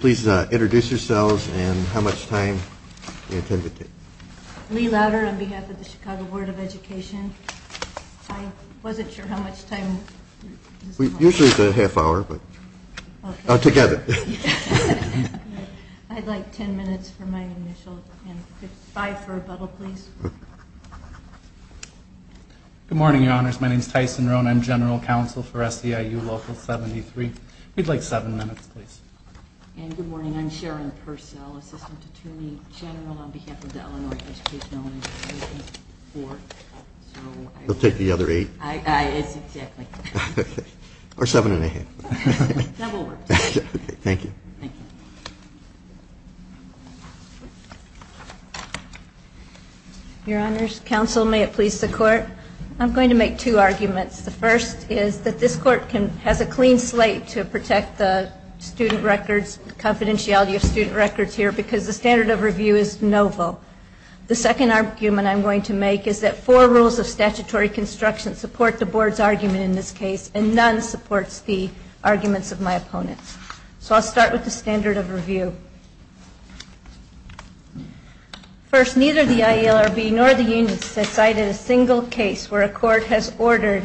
Please introduce yourselves and how much time you intend to take. Lee Louder on behalf of the Chicago Board of Education. I wasn't sure how much time. Usually it's a half hour, but together. I'd like ten minutes for my initial and five for rebuttal please. Good morning, your honors. My name is Tyson Rohn. I'm General Counsel for SEIU Local 73. We'd like seven minutes please. Good morning. I'm Sharon Purcell, Assistant Attorney General on behalf of the Illinois Educational Labor Board. We'll take the other eight. Yes, exactly. Or seven and a half. That will work. Thank you. Thank you. Your honors, counsel, may it please the court. I'm going to make two arguments. The first is that this court has a clean slate to protect the student records, confidentiality of student records here, because the standard of review is novel. The second argument I'm going to make is that four rules of statutory construction support the board's argument in this case, and none supports the arguments of my opponents. So I'll start with the standard of review. First, neither the IELRB nor the unions have cited a single case where a court has ordered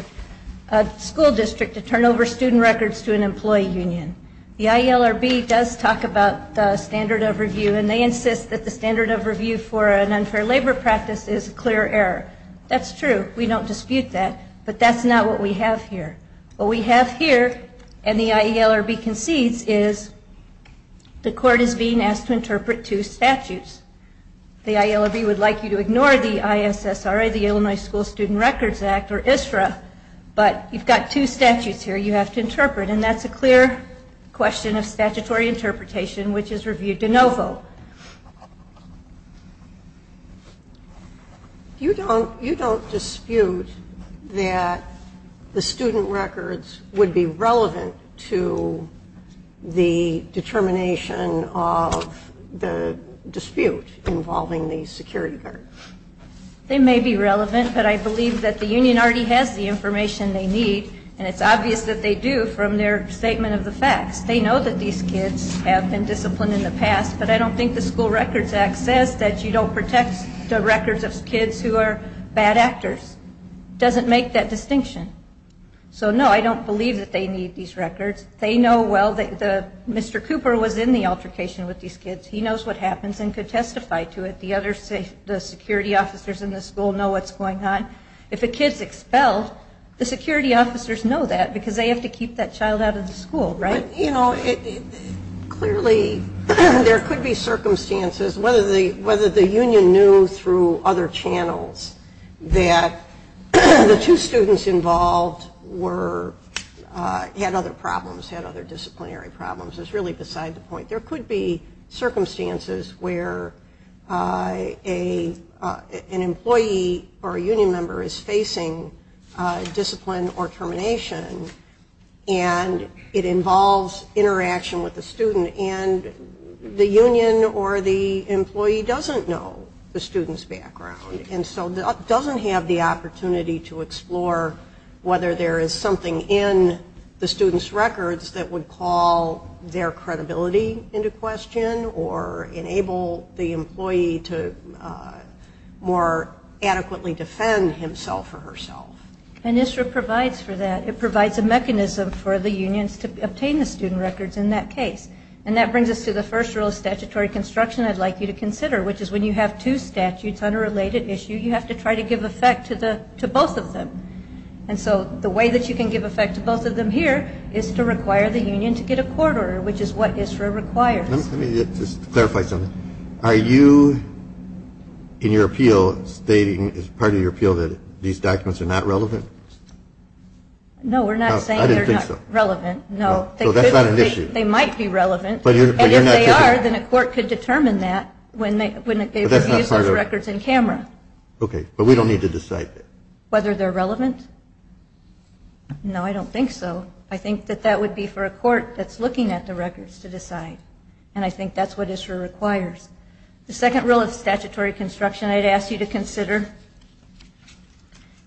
a school district to turn over student records to an employee union. The IELRB does talk about the standard of review, and they insist that the standard of review for an unfair labor practice is a clear error. That's true. We don't dispute that, but that's not what we have here. What we have here, and the IELRB concedes, is the court is being asked to interpret two statutes. The IELRB would like you to ignore the ISSRA, the Illinois School Student Records Act, or ISFRA, but you've got two statutes here you have to interpret, and that's a clear question of statutory interpretation, which is review de novo. You don't dispute that the student records would be relevant to the determination of the dispute involving the security guard? They may be relevant, but I believe that the union already has the information they need, and it's obvious that they do from their statement of the facts. They know that these kids have been disciplined in the past, but I don't think the School Records Act says that you don't protect the records of kids who are bad actors. It doesn't make that distinction. So, no, I don't believe that they need these records. They know, well, Mr. Cooper was in the altercation with these kids. He knows what happens and could testify to it. The security officers in the school know what's going on. If a kid's expelled, the security officers know that because they have to keep that child out of the school, right? Clearly, there could be circumstances, whether the union knew through other channels, that the two students involved had other problems, had other disciplinary problems. It's really beside the point. There could be circumstances where an employee or a union member is facing discipline or termination, and it involves interaction with the student, and the union or the employee doesn't know the student's background and so doesn't have the opportunity to explore whether there is something in the student's records that would call their credibility into question or enable the employee to more adequately defend himself or herself. And ISRA provides for that. It provides a mechanism for the unions to obtain the student records in that case. And that brings us to the first rule of statutory construction I'd like you to consider, which is when you have two statutes on a related issue, you have to try to give effect to both of them. And so the way that you can give effect to both of them here is to require the union to get a court order, which is what ISRA requires. Let me just clarify something. Are you, in your appeal, stating as part of your appeal that these documents are not relevant? No, we're not saying they're not relevant. I didn't think so. No. So that's not an issue. They might be relevant, and if they are, then a court could determine that when they use those records in camera. Okay, but we don't need to decide that. Whether they're relevant? No, I don't think so. I think that that would be for a court that's looking at the records to decide, and I think that's what ISRA requires. The second rule of statutory construction I'd ask you to consider,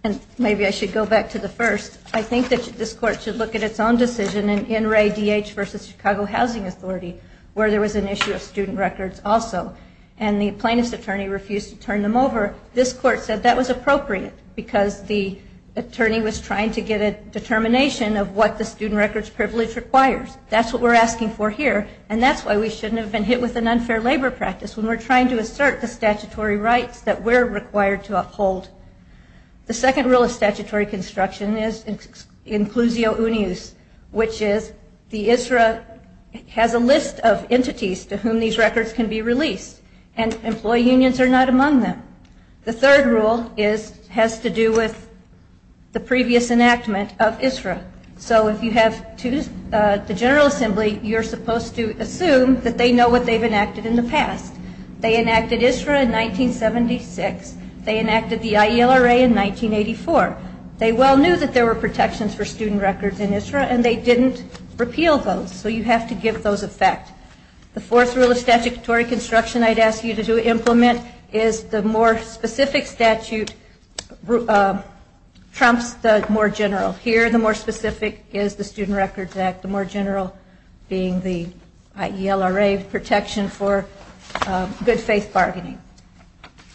and maybe I should go back to the first, I think that this court should look at its own decision in Wray D.H. v. Chicago Housing Authority where there was an issue of student records also, and the plaintiff's attorney refused to turn them over. This court said that was appropriate because the attorney was trying to get a determination of what the student records privilege requires. That's what we're asking for here, and that's why we shouldn't have been hit with an unfair labor practice when we're trying to assert the statutory rights that we're required to uphold. The second rule of statutory construction is inclusio unius, which is the ISRA has a list of entities to whom these records can be released, and employee unions are not among them. The third rule has to do with the previous enactment of ISRA. So if you have the General Assembly, you're supposed to assume that they know what they've enacted in the past. They enacted ISRA in 1976. They enacted the IELRA in 1984. They well knew that there were protections for student records in ISRA, and they didn't repeal those, so you have to give those effect. The fourth rule of statutory construction I'd ask you to implement is the more specific statute trumps the more general. Here the more specific is the Student Records Act, the more general being the IELRA protection for good faith bargaining.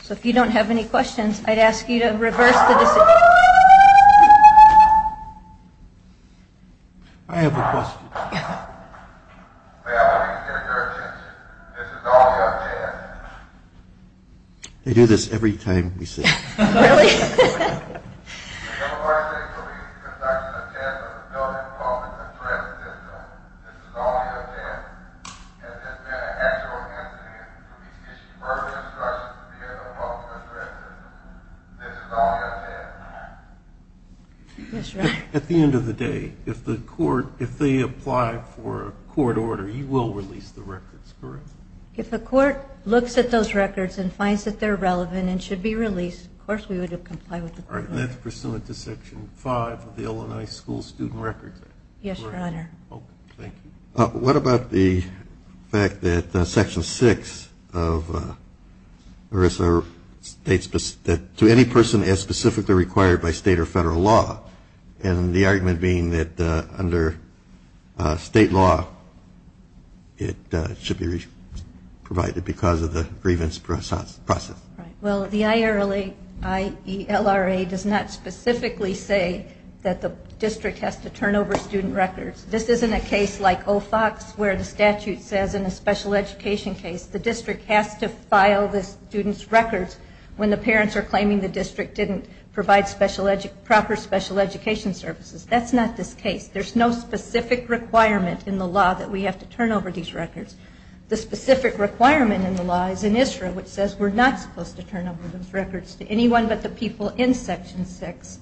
So if you don't have any questions, I'd ask you to reverse the decision. I have a question. May I please get your attention? This is all your chance. They do this every time we sit. Really? The University of Belize is conducting a test of the building of the threat system. This is all your chance. Has this been an actual incident? Have you issued further instructions to the building of the threat system? This is all your chance. At the end of the day, if they apply for a court order, you will release the records, correct? If the court looks at those records and finds that they're relevant and should be released, of course we would comply with the court order. That's pursuant to Section 5 of the Illinois School Student Records Act. Yes, Your Honor. Thank you. What about the fact that Section 6 of ERISA states that to any person as specifically required by state or federal law, and the argument being that under state law it should be provided because of the grievance process? Well, the IELRA does not specifically say that the district has to turn over student records. This isn't a case like OFOX where the statute says in a special education case the district has to file the student's records when the parents are claiming the district didn't provide proper special education services. That's not this case. There's no specific requirement in the law that we have to turn over these records. The specific requirement in the law is in ISRA, which says we're not supposed to turn over those records to anyone but the people in Section 6.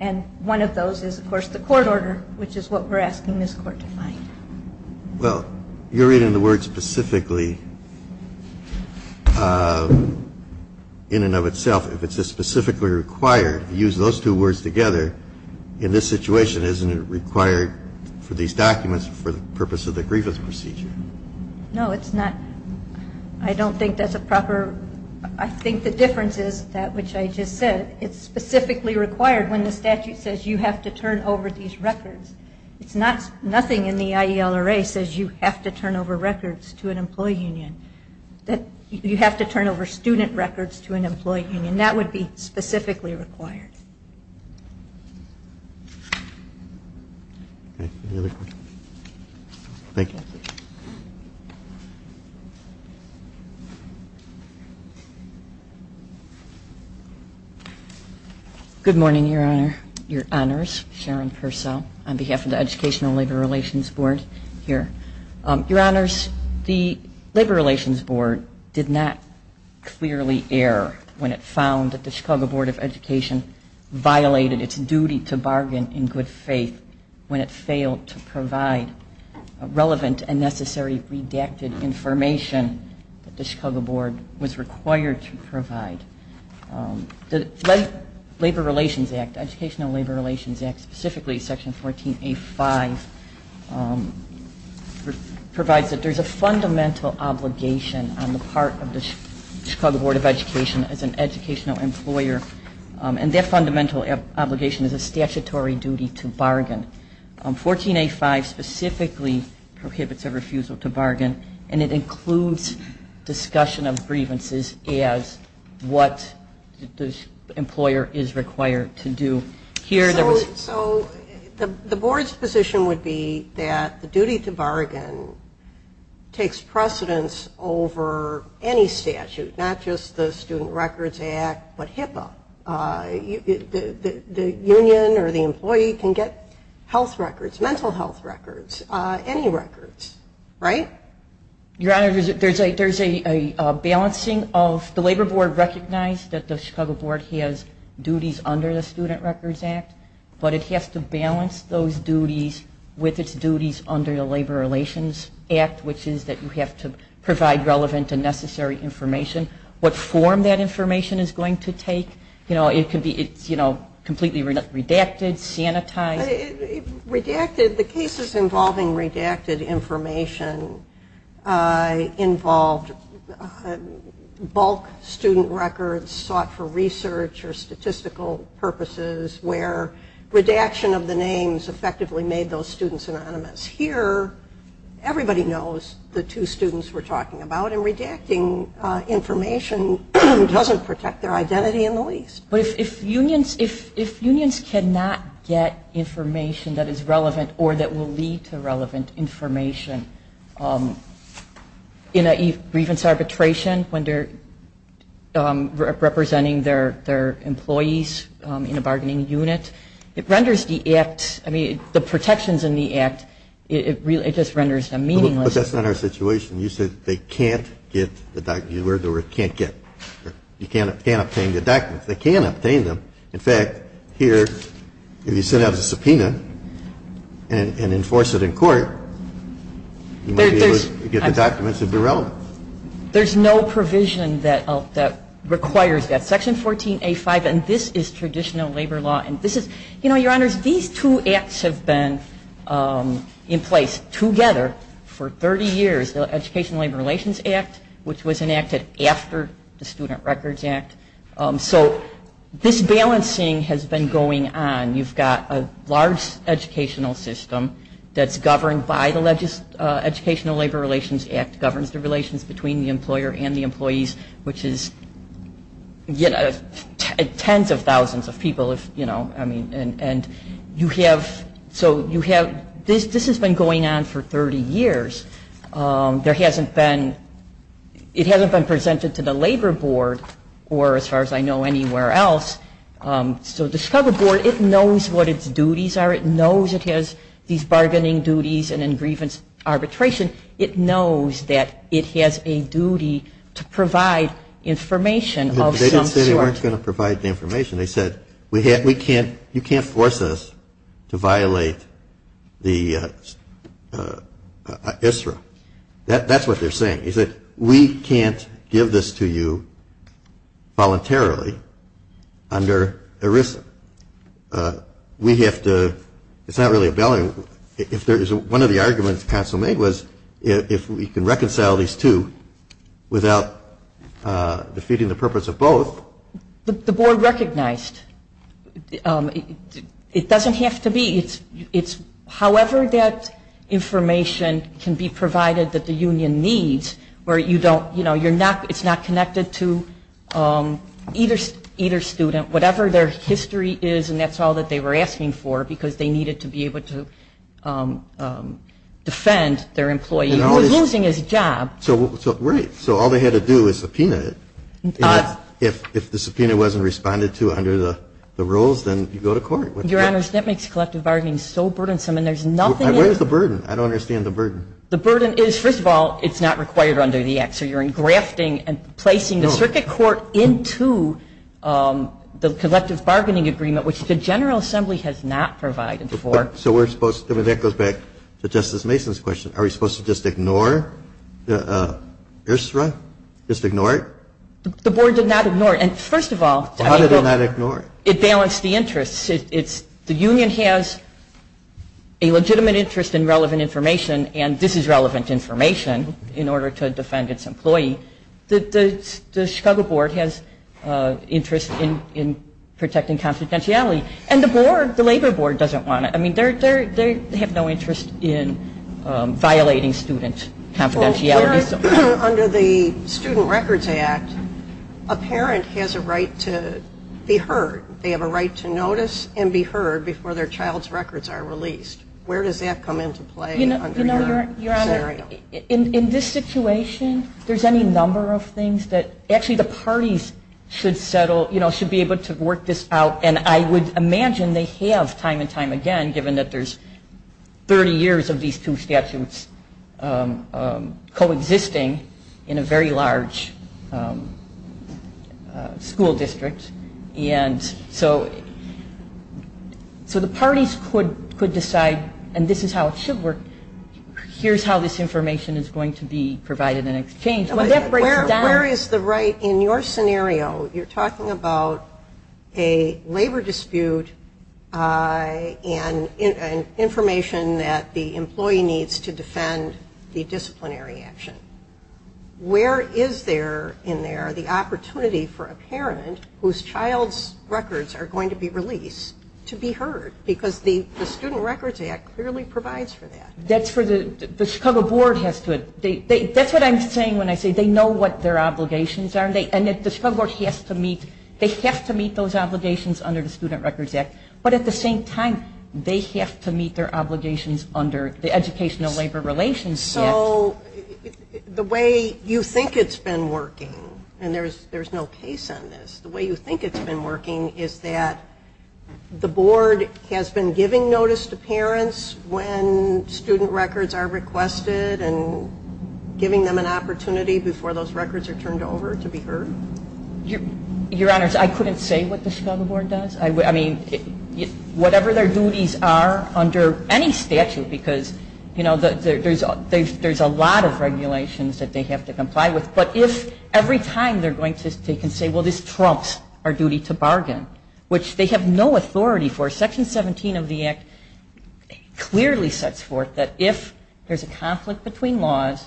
And one of those is, of course, the court order, which is what we're asking this Court to find. Well, you're reading the words specifically in and of itself. If it's a specifically required, if you use those two words together, in this situation isn't it required for these documents for the purpose of the grievance procedure? No, it's not. I don't think that's a proper – I think the difference is that, which I just said, it's specifically required when the statute says you have to turn over these records. It's not – nothing in the IELRA says you have to turn over records to an employee union. You have to turn over student records to an employee union. That would be specifically required. Any other questions? Thank you. Good morning, Your Honor, Your Honors. Sharon Purcell on behalf of the Educational Labor Relations Board here. Your Honors, the Labor Relations Board did not clearly err when it found that the Chicago Board of Education violated its duty to bargain in good faith when it failed to provide relevant and necessary redacted information that the Chicago Board was required to provide. The Labor Relations Act, Educational Labor Relations Act, specifically Section 14A-5, provides that there's a fundamental obligation on the part of the Chicago Board of Education as an educational employer, and that fundamental obligation is a statutory duty to bargain. 14A-5 specifically prohibits a refusal to bargain, and it includes discussion of grievances as what the employer is required to do. So the Board's position would be that the duty to bargain takes precedence over any statute, not just the Student Records Act, but HIPAA. The union or the employee can get health records, mental health records, any records, right? Your Honor, there's a balancing of the Labor Board recognized that the Chicago Board has duties under the Student Records Act, but it has to balance those duties with its duties under the Labor Relations Act, which is that you have to provide relevant and necessary information, what form that information is going to take. It can be completely redacted, sanitized. Redacted, the cases involving redacted information involved bulk student records sought for research or statistical purposes, where redaction of the names effectively made those students anonymous. Here, everybody knows the two students we're talking about, and redacting information doesn't protect their identity in the least. But if unions cannot get information that is relevant or that will lead to relevant information in a grievance arbitration when they're representing their employees in a bargaining unit, the protections in the Act, it just renders them meaningless. But that's not our situation. You said they can't get the documents. You heard the word can't get. You can't obtain the documents. They can obtain them. In fact, here, if you send out a subpoena and enforce it in court, you might be able to get the documents that would be relevant. There's no provision that requires that. Section 14A5, and this is traditional labor law. Your Honors, these two acts have been in place together for 30 years, the Educational Labor Relations Act, which was enacted after the Student Records Act. So this balancing has been going on. You've got a large educational system that's governed by the Educational Labor Relations Act, that governs the relations between the employer and the employees, which is tens of thousands of people. So this has been going on for 30 years. It hasn't been presented to the Labor Board or, as far as I know, anywhere else. So the Chicago Board, it knows what its duties are. It knows it has these bargaining duties and in grievance arbitration. It knows that it has a duty to provide information of some sort. They didn't say they weren't going to provide the information. They said, you can't force us to violate the ISRA. That's what they're saying. They said, we can't give this to you voluntarily under ERISA. We have to – it's not really a – one of the arguments the Council made was if we can reconcile these two without defeating the purpose of both. The Board recognized. It doesn't have to be. However that information can be provided that the union needs, where it's not connected to either student, whatever their history is, and that's all that they were asking for because they needed to be able to defend their employee who was losing his job. Right. So all they had to do was subpoena it. If the subpoena wasn't responded to under the rules, then you go to court. Your Honors, that makes collective bargaining so burdensome, and there's nothing – Where's the burden? I don't understand the burden. The burden is, first of all, it's not required under the Act. So you're engrafting and placing the circuit court into the collective bargaining agreement, which the General Assembly has not provided for. So we're supposed to – that goes back to Justice Mason's question. Are we supposed to just ignore ERISA? Just ignore it? The Board did not ignore it. And first of all – How did it not ignore it? It balanced the interests. It's – the union has a legitimate interest in relevant information, and this is relevant information in order to defend its employee. The Chicago Board has interest in protecting confidentiality. And the Board, the Labor Board, doesn't want it. I mean, they have no interest in violating student confidentiality. Well, under the Student Records Act, a parent has a right to be heard. They have a right to notice and be heard before their child's records are released. Where does that come into play under your scenario? You know, Your Honor, in this situation, there's any number of things that – actually, the parties should settle – you know, should be able to work this out. And I would imagine they have time and time again, given that there's 30 years of these two statutes coexisting in a very large school district. And so the parties could decide, and this is how it should work, here's how this information is going to be provided in exchange. When that breaks down – Where is the right – in your scenario, you're talking about a labor dispute and information that the employee needs to defend the disciplinary action. Where is there, in there, the opportunity for a parent whose child's records are going to be released, to be heard? Because the Student Records Act clearly provides for that. That's for the – the Chicago Board has to – that's what I'm saying when I say they know what their obligations are. And the Chicago Board has to meet – they have to meet those obligations under the Student Records Act. But at the same time, they have to meet their obligations under the Educational Labor Relations Act. So the way you think it's been working, and there's no case on this, the way you think it's been working is that the Board has been giving notice to parents when student records are requested and giving them an opportunity before those records are turned over to be heard? Your Honors, I couldn't say what the Chicago Board does. I mean, whatever their duties are under any statute, because, you know, there's a lot of regulations that they have to comply with. But if every time they're going to take and say, well, this trumps our duty to bargain, which they have no authority for. Section 17 of the Act clearly sets forth that if there's a conflict between laws,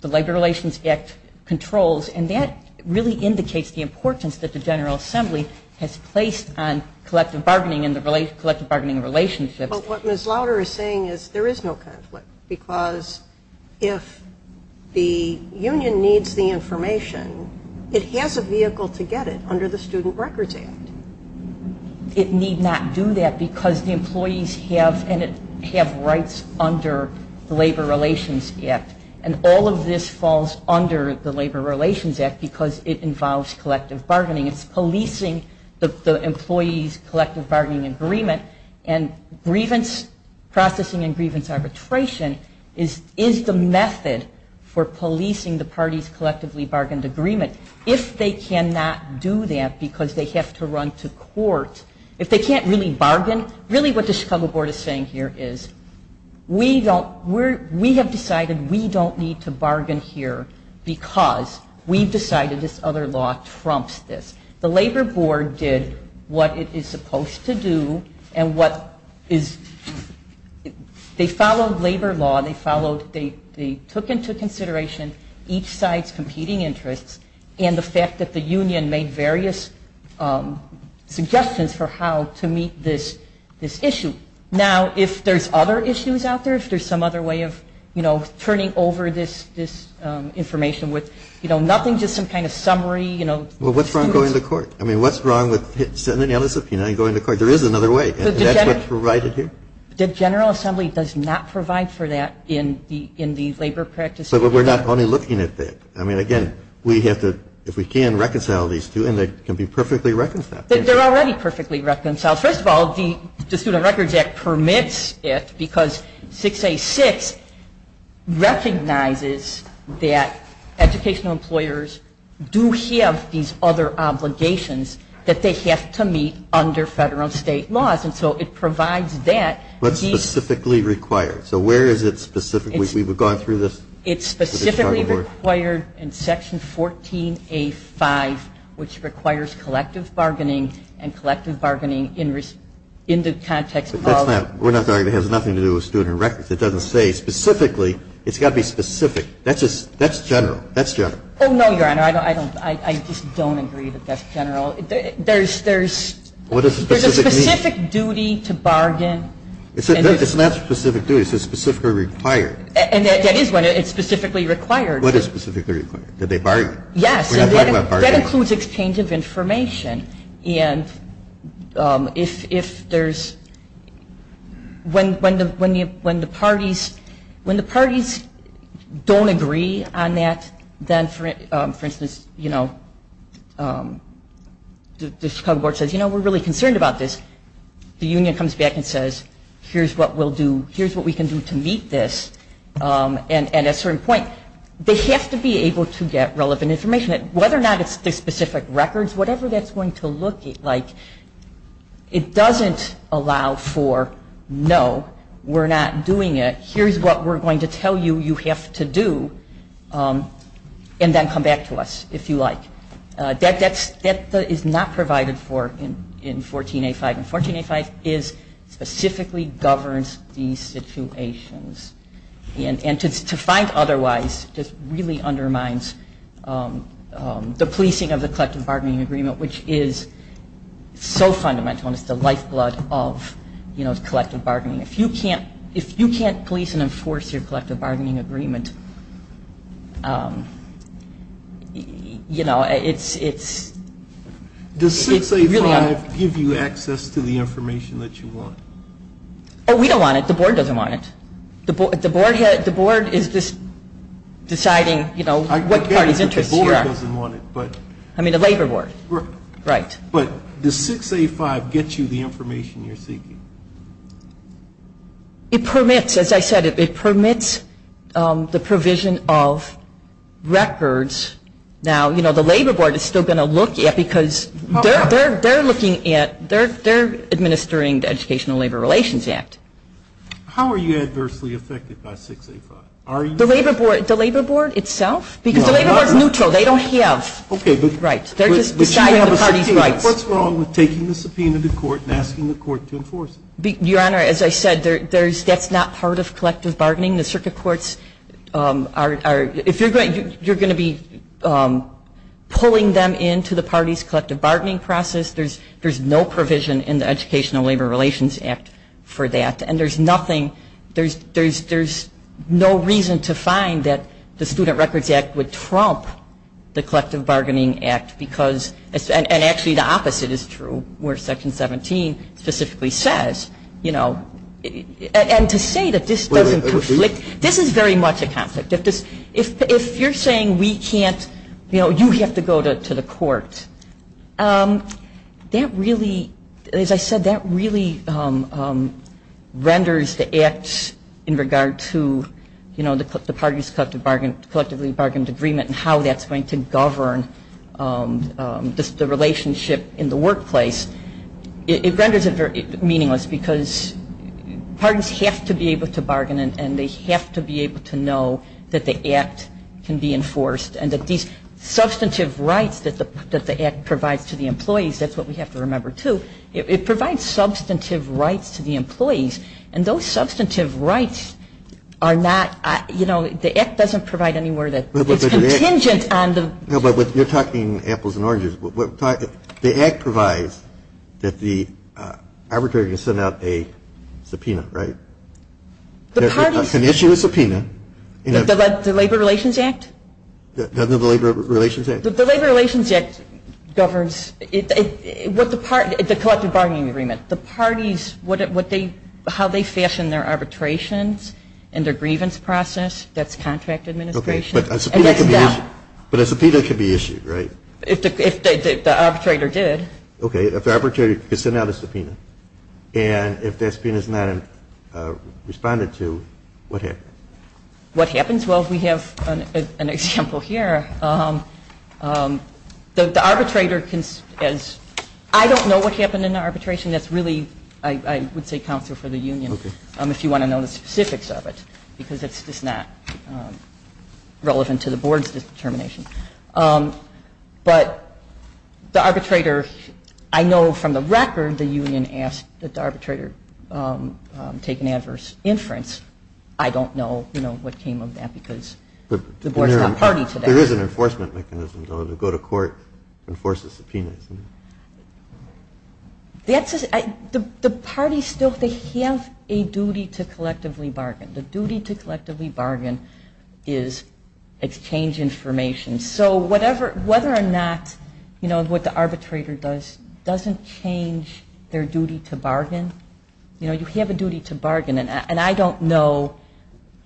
the Labor Relations Act controls. And that really indicates the importance that the General Assembly has placed on collective bargaining and the collective bargaining relationships. But what Ms. Lauder is saying is there is no conflict, because if the union needs the information, it has a vehicle to get it under the Student Records Act. It need not do that because the employees have rights under the Labor Relations Act. And all of this falls under the Labor Relations Act because it involves collective bargaining. It's policing the employees' collective bargaining agreement and grievance processing and grievance arbitration is the method for policing the parties' collectively bargained agreement. If they cannot do that because they have to run to court, if they can't really bargain, really what the Chicago Board is saying here is we have decided we don't need to bargain here because we've decided this other law trumps this. The Labor Board did what it is supposed to do. They followed labor law. They took into consideration each side's competing interests and the fact that the union made various suggestions for how to meet this issue. Now, if there's other issues out there, if there's some other way of turning over this information with nothing, just some kind of summary. Well, what's wrong with going to court? I mean, what's wrong with sending out a subpoena and going to court? There is another way. That's what's provided here. The General Assembly does not provide for that in the labor practice. But we're not only looking at that. I mean, again, we have to, if we can, reconcile these two and they can be perfectly reconciled. They're already perfectly reconciled. First of all, the Student Records Act permits it recognizes that educational employers do have these other obligations that they have to meet under federal and state laws. And so it provides that. But specifically required. So where is it specifically? We've gone through this? It's specifically required in Section 14A5, which requires collective bargaining and collective bargaining in the context of We're not talking, it has nothing to do with student records. It doesn't say specifically. It's got to be specific. That's general. That's general. Oh, no, Your Honor. I just don't agree that that's general. There's a specific duty to bargain. It's not a specific duty. It says specifically required. And that is when it's specifically required. What is specifically required? That they bargain. Yes. That includes exchange of information. And when the parties don't agree on that, then, for instance, the Chicago Board says, you know, we're really concerned about this. The union comes back and says, here's what we'll do. Here's what we can do to meet this. And at a certain point, they have to be able to get relevant information. Whether or not it's the specific records, whatever that's going to look like, it doesn't allow for, no, we're not doing it. Here's what we're going to tell you you have to do and then come back to us, if you like. That is not provided for in 14A5. And 14A5 specifically governs these situations. And to find otherwise just really undermines the policing of the collective bargaining agreement, which is so fundamental and is the lifeblood of, you know, collective bargaining. If you can't police and enforce your collective bargaining agreement, you know, it's really un- Does 16A5 give you access to the information that you want? Oh, we don't want it. The board doesn't want it. The board is just deciding, you know, what party's interests you are. I get it, but the board doesn't want it. I mean the labor board. Right. But does 16A5 get you the information you're seeking? It permits, as I said, it permits the provision of records. Now, you know, the labor board is still going to look at it because they're looking at, they're administering the Educational Labor Relations Act. How are you adversely affected by 16A5? The labor board itself? Because the labor board is neutral. They don't have. Right. They're just deciding the party's rights. What's wrong with taking the subpoena to court and asking the court to enforce it? Your Honor, as I said, that's not part of collective bargaining. The circuit courts are, if you're going to be pulling them into the party's collective bargaining process, there's no provision in the Educational Labor Relations Act for that. And there's nothing, there's no reason to find that the Student Records Act would trump the Collective Bargaining Act because, and actually the opposite is true where Section 17 specifically says, you know, and to say that this doesn't conflict, this is very much a conflict. If you're saying we can't, you know, you have to go to the court, that really, as I said, that really renders the act in regard to, you know, the party's collectively bargained agreement and how that's going to govern the relationship in the workplace. It renders it meaningless because parties have to be able to bargain and they have to be able to know that the act can be enforced and that these substantive rights that the act provides to the employees, that's what we have to remember too, it provides substantive rights to the employees and those substantive rights are not, you know, the act doesn't provide anywhere that it's contingent on the. No, but you're talking apples and oranges. The act provides that the arbitrator can send out a subpoena, right? The parties. Can issue a subpoena. The Labor Relations Act? Doesn't the Labor Relations Act? The Labor Relations Act governs what the party, the collective bargaining agreement. The parties, what they, how they fashion their arbitrations and their grievance process, that's contract administration. Okay, but a subpoena can be issued, right? If the arbitrator did. Okay, if the arbitrator could send out a subpoena and if that subpoena is not responded to, what happens? What happens? Well, we have an example here. The arbitrator can, I don't know what happened in the arbitration, that's really, I would say counsel for the union if you want to know the specifics of it because it's just not relevant to the board's determination. But the arbitrator, I know from the record the union asked that the arbitrator take an adverse inference. I don't know, you know, what came of that because the board's not party to that. There is an enforcement mechanism, though, to go to court and force a subpoena, isn't there? The party still, they have a duty to collectively bargain. The duty to collectively bargain is exchange information. So whether or not, you know, what the arbitrator does doesn't change their duty to bargain. You know, you have a duty to bargain. And I don't know,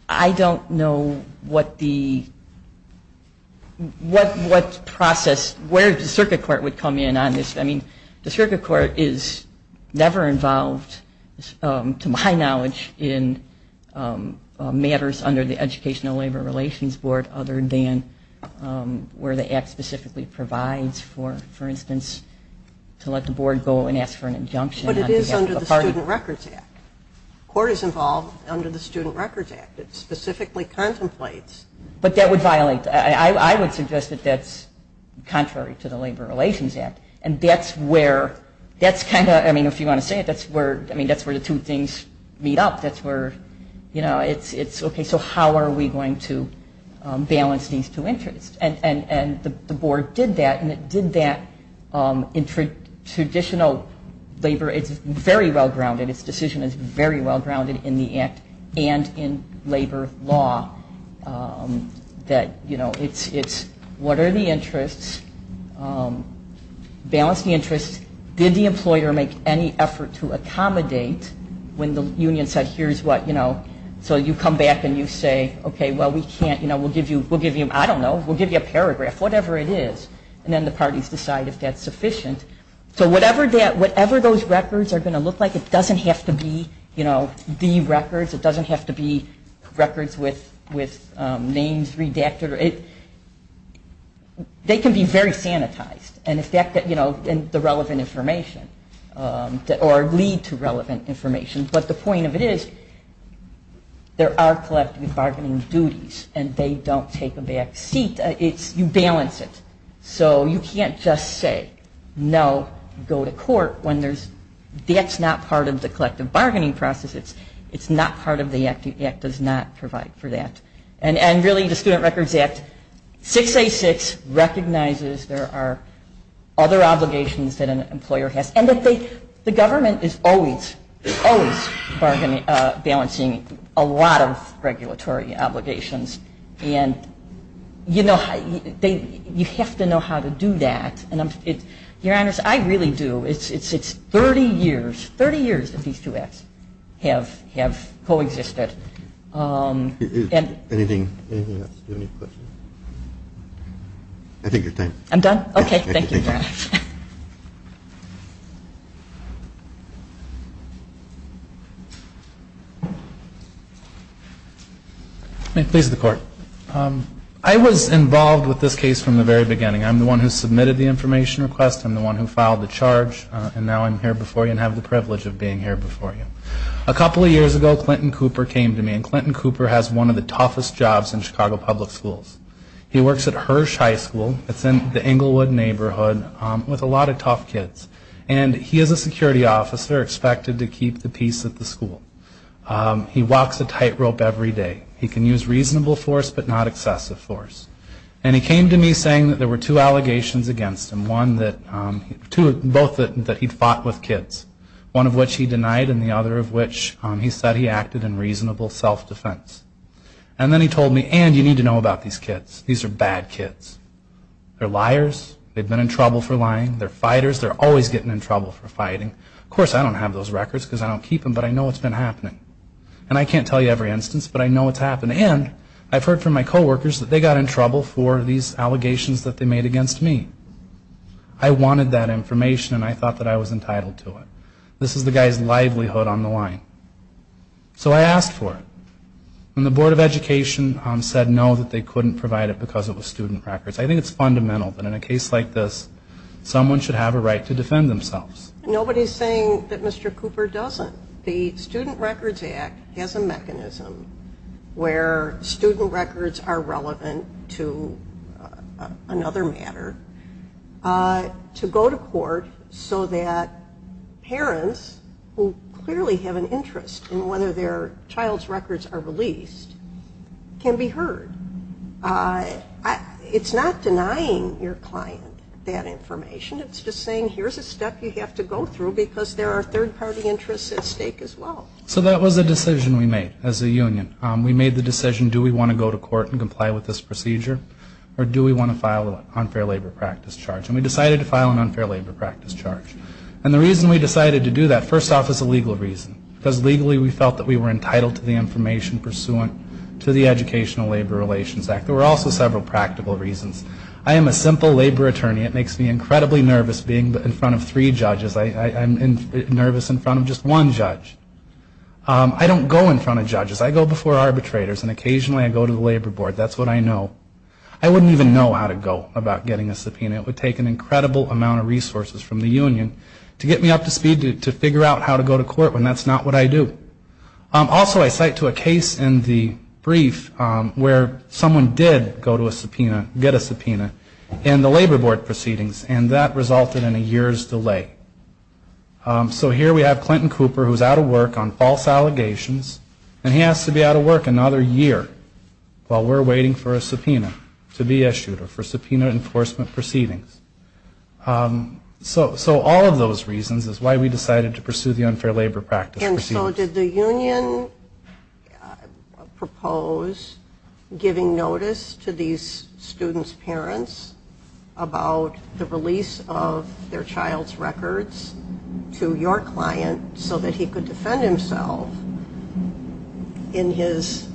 I don't know what the, what process, where the circuit court would come in on this. I mean, the circuit court is never involved, to my knowledge, in matters under the Educational Labor Relations Board other than where the act specifically provides for instance to let the board go and ask for an injunction. But it is under the Student Records Act. Court is involved under the Student Records Act. It specifically contemplates. But that would violate, I would suggest that that's contrary to the Labor Relations Act. And that's where, that's kind of, I mean, if you want to say it, that's where, I mean, that's where the two things meet up. That's where, you know, it's okay, so how are we going to balance these two interests? And the board did that, and it did that in traditional labor. It's very well-grounded. Its decision is very well-grounded in the act and in labor law. That, you know, it's what are the interests, balance the interests, did the employer make any effort to accommodate when the union said here's what, you know. So you come back and you say, okay, well, we can't, you know, we'll give you, we'll give you, I don't know, we'll give you a paragraph, whatever it is. And then the parties decide if that's sufficient. So whatever that, whatever those records are going to look like, it doesn't have to be, you know, the records. It doesn't have to be records with names redacted. They can be very sanitized, and, you know, the relevant information, or lead to relevant information. But the point of it is there are collective bargaining duties, and they don't take a back seat. It's, you balance it. So you can't just say, no, go to court when there's, that's not part of the collective bargaining process. It's not part of the act. The act does not provide for that. And really the Student Records Act 686 recognizes there are other obligations that an employer has, and that the government is always, always balancing a lot of regulatory obligations. And, you know, you have to know how to do that. Your Honor, I really do. It's 30 years, 30 years that these two acts have co-existed. Anything else? Do you have any questions? I think you're done. I'm done? Okay, thank you, Your Honor. May it please the Court. I was involved with this case from the very beginning. I'm the one who submitted the information request. I'm the one who filed the charge. And now I'm here before you and have the privilege of being here before you. A couple of years ago, Clinton Cooper came to me. And Clinton Cooper has one of the toughest jobs in Chicago public schools. He works at Hirsh High School. It's in the Englewood neighborhood with a lot of tough kids. And he is a security officer expected to keep the peace at the school. He walks a tightrope every day. He can use reasonable force but not excessive force. And he came to me saying that there were two allegations against him, both that he fought with kids, one of which he denied and the other of which he said he acted in reasonable self-defense. And then he told me, and you need to know about these kids. These are bad kids. They're liars. They've been in trouble for lying. They're fighters. They're always getting in trouble for fighting. Of course, I don't have those records because I don't keep them, but I know it's been happening. And I can't tell you every instance, but I know it's happened. And I've heard from my coworkers that they got in trouble for these allegations that they made against me. I wanted that information, and I thought that I was entitled to it. This is the guy's livelihood on the line. So I asked for it. And the Board of Education said no, that they couldn't provide it because it was student records. I think it's fundamental that in a case like this, someone should have a right to defend themselves. Nobody is saying that Mr. Cooper doesn't. The Student Records Act has a mechanism where student records are relevant to another matter to go to court so that parents who clearly have an interest in whether their child's records are released can be heard. It's not denying your client that information. It's just saying here's a step you have to go through because there are third-party interests at stake as well. So that was a decision we made as a union. We made the decision, do we want to go to court and comply with this procedure, or do we want to file an unfair labor practice charge? And we decided to file an unfair labor practice charge. And the reason we decided to do that, first off, is a legal reason. Because legally we felt that we were entitled to the information pursuant to the Educational Labor Relations Act. There were also several practical reasons. I am a simple labor attorney. It makes me incredibly nervous being in front of three judges. I'm nervous in front of just one judge. I don't go in front of judges. I go before arbitrators, and occasionally I go to the labor board. That's what I know. I wouldn't even know how to go about getting a subpoena. It would take an incredible amount of resources from the union to get me up to speed to figure out how to go to court when that's not what I do. Also, I cite to a case in the brief where someone did go to a subpoena, get a subpoena, in the labor board proceedings, and that resulted in a year's delay. So here we have Clinton Cooper who is out of work on false allegations, and he has to be out of work another year while we're waiting for a subpoena to be issued or for subpoena enforcement proceedings. So all of those reasons is why we decided to pursue the unfair labor practice. And so did the union propose giving notice to these students' parents about the release of their child's records to your client so that he could defend himself in his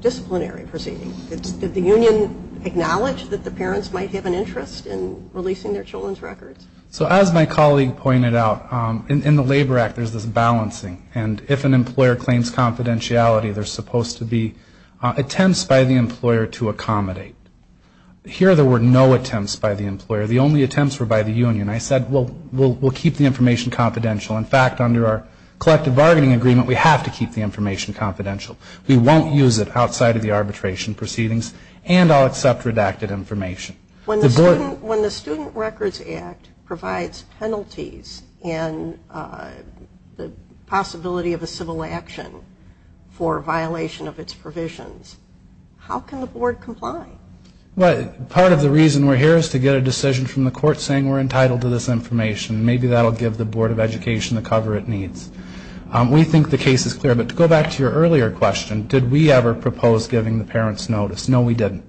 disciplinary proceedings? Did the union acknowledge that the parents might have an interest in releasing their children's records? So as my colleague pointed out, in the Labor Act there's this balancing. And if an employer claims confidentiality, there's supposed to be attempts by the employer to accommodate. Here there were no attempts by the employer. The only attempts were by the union. I said, well, we'll keep the information confidential. In fact, under our collective bargaining agreement, we have to keep the information confidential. We won't use it outside of the arbitration proceedings, and I'll accept redacted information. When the Student Records Act provides penalties in the possibility of a civil action for violation of its provisions, how can the board comply? Part of the reason we're here is to get a decision from the court saying we're entitled to this information. Maybe that will give the Board of Education the cover it needs. We think the case is clear. But to go back to your earlier question, did we ever propose giving the parents notice? No, we didn't.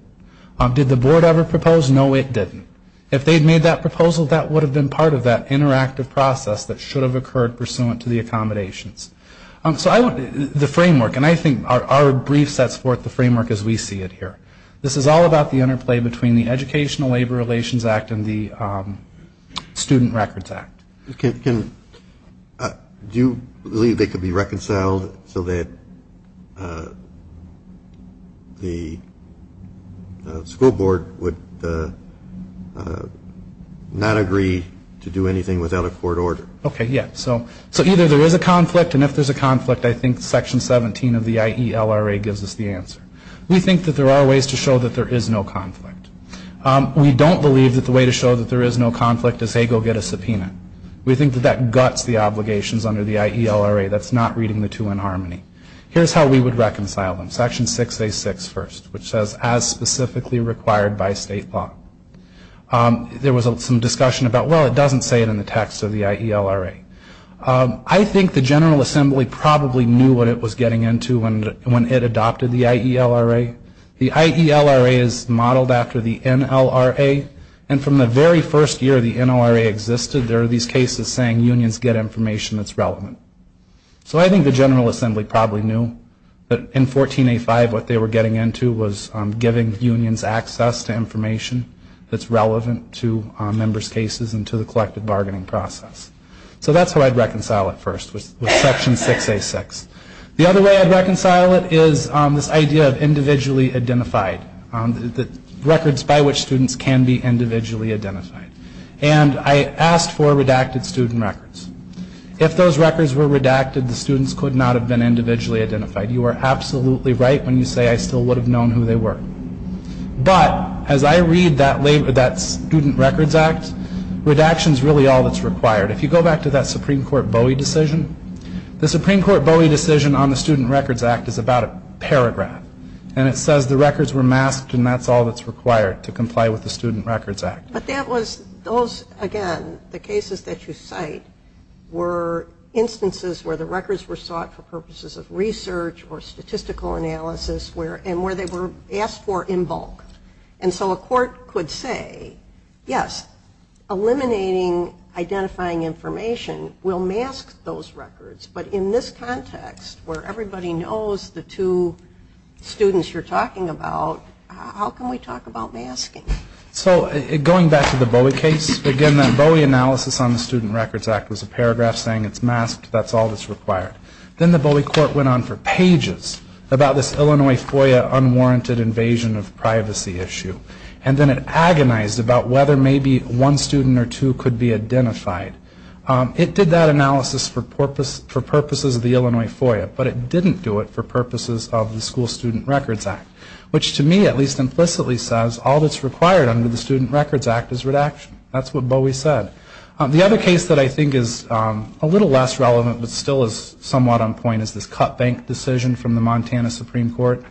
Did the board ever propose? No, it didn't. If they'd made that proposal, that would have been part of that interactive process that should have occurred pursuant to the accommodations. So the framework, and I think our brief sets forth the framework as we see it here. This is all about the interplay between the Educational Labor Relations Act and the Student Records Act. Do you believe they could be reconciled so that the school board would not agree to do anything without a court order? Okay, yes. So either there is a conflict, and if there's a conflict, I think Section 17 of the IELRA gives us the answer. We think that there are ways to show that there is no conflict. We don't believe that the way to show that there is no conflict is, hey, go get a subpoena. We think that that guts the obligations under the IELRA. That's not reading the two in harmony. Here's how we would reconcile them. Section 6A6 first, which says, as specifically required by state law. There was some discussion about, well, it doesn't say it in the text of the IELRA. I think the General Assembly probably knew what it was getting into when it adopted the IELRA. The IELRA is modeled after the NLRA. And from the very first year the NLRA existed, there are these cases saying unions get information that's relevant. So I think the General Assembly probably knew that in 14A5 what they were getting into was giving unions access to information that's relevant to members' cases and to the collective bargaining process. So that's how I'd reconcile it first, with Section 6A6. The other way I'd reconcile it is this idea of individually identified, records by which students can be individually identified. And I asked for redacted student records. If those records were redacted, the students could not have been individually identified. You are absolutely right when you say I still would have known who they were. But as I read that Student Records Act, redaction is really all that's required. If you go back to that Supreme Court Bowie decision, the Supreme Court Bowie decision on the Student Records Act is about a paragraph. And it says the records were masked and that's all that's required to comply with the Student Records Act. But that was, those again, the cases that you cite, were instances where the records were sought for purposes of research or statistical analysis and where they were asked for in bulk. And so a court could say, yes, eliminating identifying information will mask those records. But in this context, where everybody knows the two students you're talking about, how can we talk about masking? So going back to the Bowie case, again, that Bowie analysis on the Student Records Act was a paragraph saying it's masked, that's all that's required. Then the Bowie court went on for pages about this Illinois FOIA unwarranted invasion of privacy issue and then it agonized about whether maybe one student or two could be identified. It did that analysis for purposes of the Illinois FOIA, but it didn't do it for purposes of the School Student Records Act, which to me at least implicitly says all that's required under the Student Records Act is redaction. That's what Bowie said. The other case that I think is a little less relevant but still is somewhat on point is this cut bank decision from the Montana Supreme Court.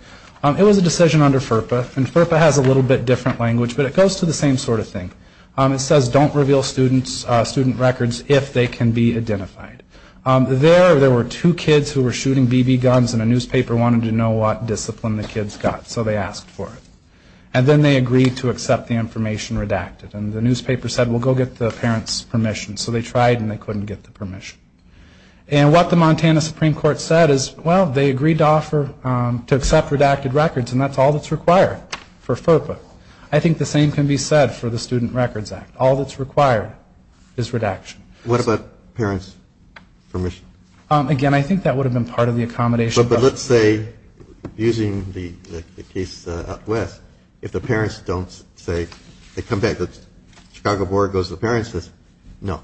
It was a decision under FERPA, and FERPA has a little bit different language, but it goes to the same sort of thing. It says don't reveal student records if they can be identified. There, there were two kids who were shooting BB guns and a newspaper wanted to know what discipline the kids got, so they asked for it. And then they agreed to accept the information redacted. And the newspaper said, well, go get the parents' permission. So they tried and they couldn't get the permission. And what the Montana Supreme Court said is, well, they agreed to accept redacted records, and that's all that's required for FERPA. I think the same can be said for the Student Records Act. All that's required is redaction. What about parents' permission? Again, I think that would have been part of the accommodation. But let's say, using the case up west, if the parents don't say, they come back, the Chicago Board goes to the parents and says, no.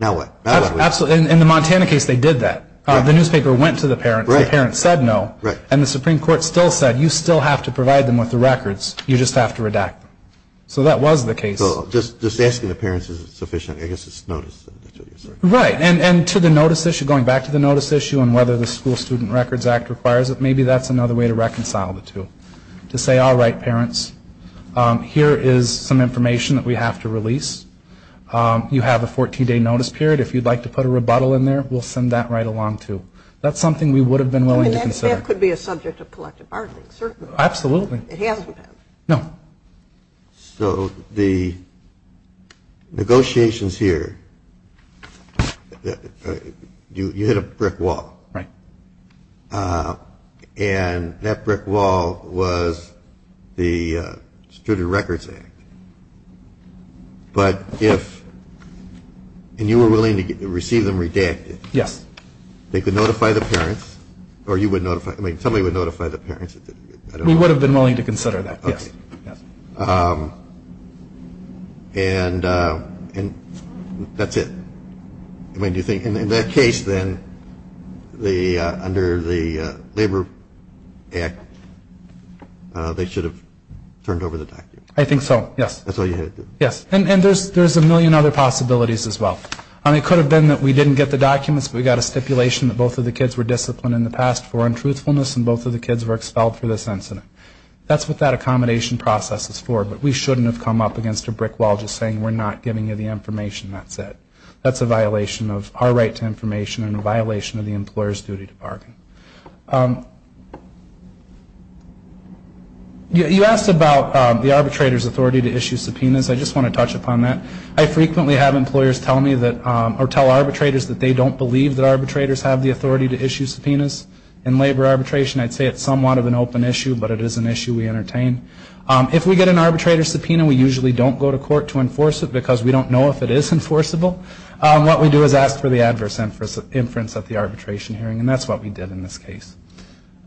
Now what? Absolutely. In the Montana case, they did that. The newspaper went to the parents. The parents said no. And the Supreme Court still said, you still have to provide them with the records. You just have to redact them. So that was the case. So just asking the parents is sufficient. I guess it's notice. Right. And to the notice issue, going back to the notice issue and whether the School Student Records Act requires it, maybe that's another way to reconcile the two. To say, all right, parents, here is some information that we have to release. You have a 14-day notice period. If you'd like to put a rebuttal in there, we'll send that right along, too. That's something we would have been willing to consider. That could be a subject of collective bargaining, certainly. Absolutely. It hasn't been. No. So the negotiations here, you hit a brick wall. Right. And that brick wall was the Student Records Act. But if, and you were willing to receive them redacted. Yes. They could notify the parents, or you would notify, I mean, somebody would notify the parents. We would have been willing to consider that, yes. Okay. Yes. And that's it. I mean, do you think, in that case, then, under the Labor Act, they should have turned over the documents. I think so, yes. That's all you had to do. Yes. And there's a million other possibilities, as well. I mean, it could have been that we didn't get the documents, but we got a stipulation that both of the kids were disciplined in the past for untruthfulness, and both of the kids were expelled for this incident. That's what that accommodation process is for. But we shouldn't have come up against a brick wall just saying, we're not giving you the information. That's it. That's a violation of our right to information and a violation of the employer's duty to bargain. You asked about the arbitrator's authority to issue subpoenas. I just want to touch upon that. I frequently have employers tell me that, or tell arbitrators, that they don't believe that arbitrators have the authority to issue subpoenas. In labor arbitration, I'd say it's somewhat of an open issue, but it is an issue we entertain. If we get an arbitrator's subpoena, we usually don't go to court to enforce it because we don't know if it is enforceable. What we do is ask for the adverse inference at the arbitration hearing, and that's what we did in this case.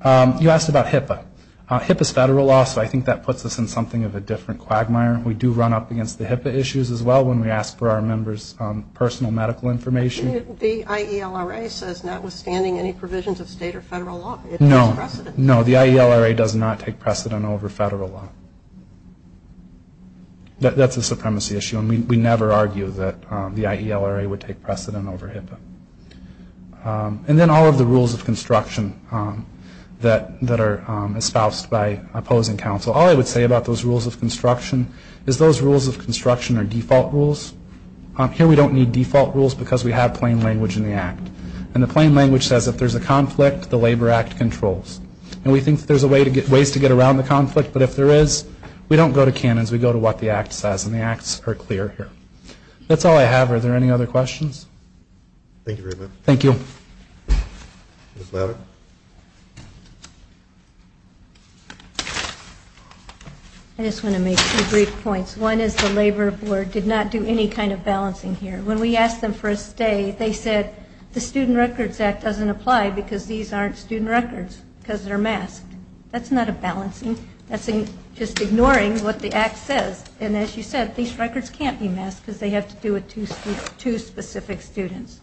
You asked about HIPAA. HIPAA is federal law, so I think that puts us in something of a different quagmire. We do run up against the HIPAA issues as well when we ask for our members' personal medical information. The IELRA says notwithstanding any provisions of state or federal law, it takes precedent. No, the IELRA does not take precedent over federal law. That's a supremacy issue, and we never argue that the IELRA would take precedent over HIPAA. And then all of the rules of construction that are espoused by opposing counsel. All I would say about those rules of construction is those rules of construction are default rules. Here we don't need default rules because we have plain language in the Act. And the plain language says if there's a conflict, the Labor Act controls. And we think there's ways to get around the conflict, but if there is, we don't go to canons. We go to what the Act says, and the Acts are clear here. That's all I have. Are there any other questions? Thank you very much. Thank you. I just want to make two brief points. One is the Labor Board did not do any kind of balancing here. When we asked them for a stay, they said, the Student Records Act doesn't apply because these aren't student records because they're masked. That's not a balancing. That's just ignoring what the Act says. And as you said, these records can't be masked because they have to do with two specific students.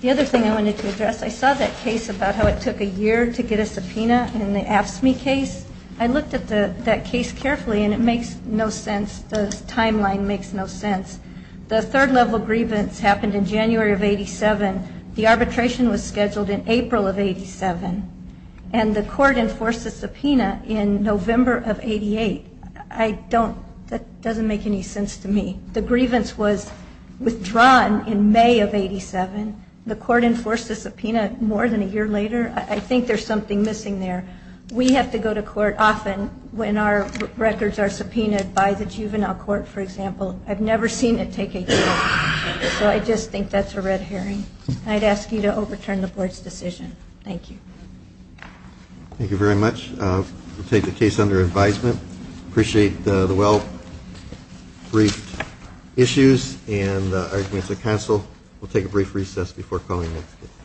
The other thing I wanted to address, I saw that case about how it took a year to get a subpoena in the AFSCME case. I looked at that case carefully, and it makes no sense. The timeline makes no sense. The third-level grievance happened in January of 87. The arbitration was scheduled in April of 87. And the court enforced a subpoena in November of 88. That doesn't make any sense to me. The grievance was withdrawn in May of 87. The court enforced a subpoena more than a year later. I think there's something missing there. We have to go to court often when our records are subpoenaed by the juvenile court, for example. I've never seen it take a year. So I just think that's a red herring. I'd ask you to overturn the Board's decision. Thank you. Thank you very much. We'll take the case under advisement. Appreciate the well-briefed issues and arguments at council. We'll take a brief recess before calling next.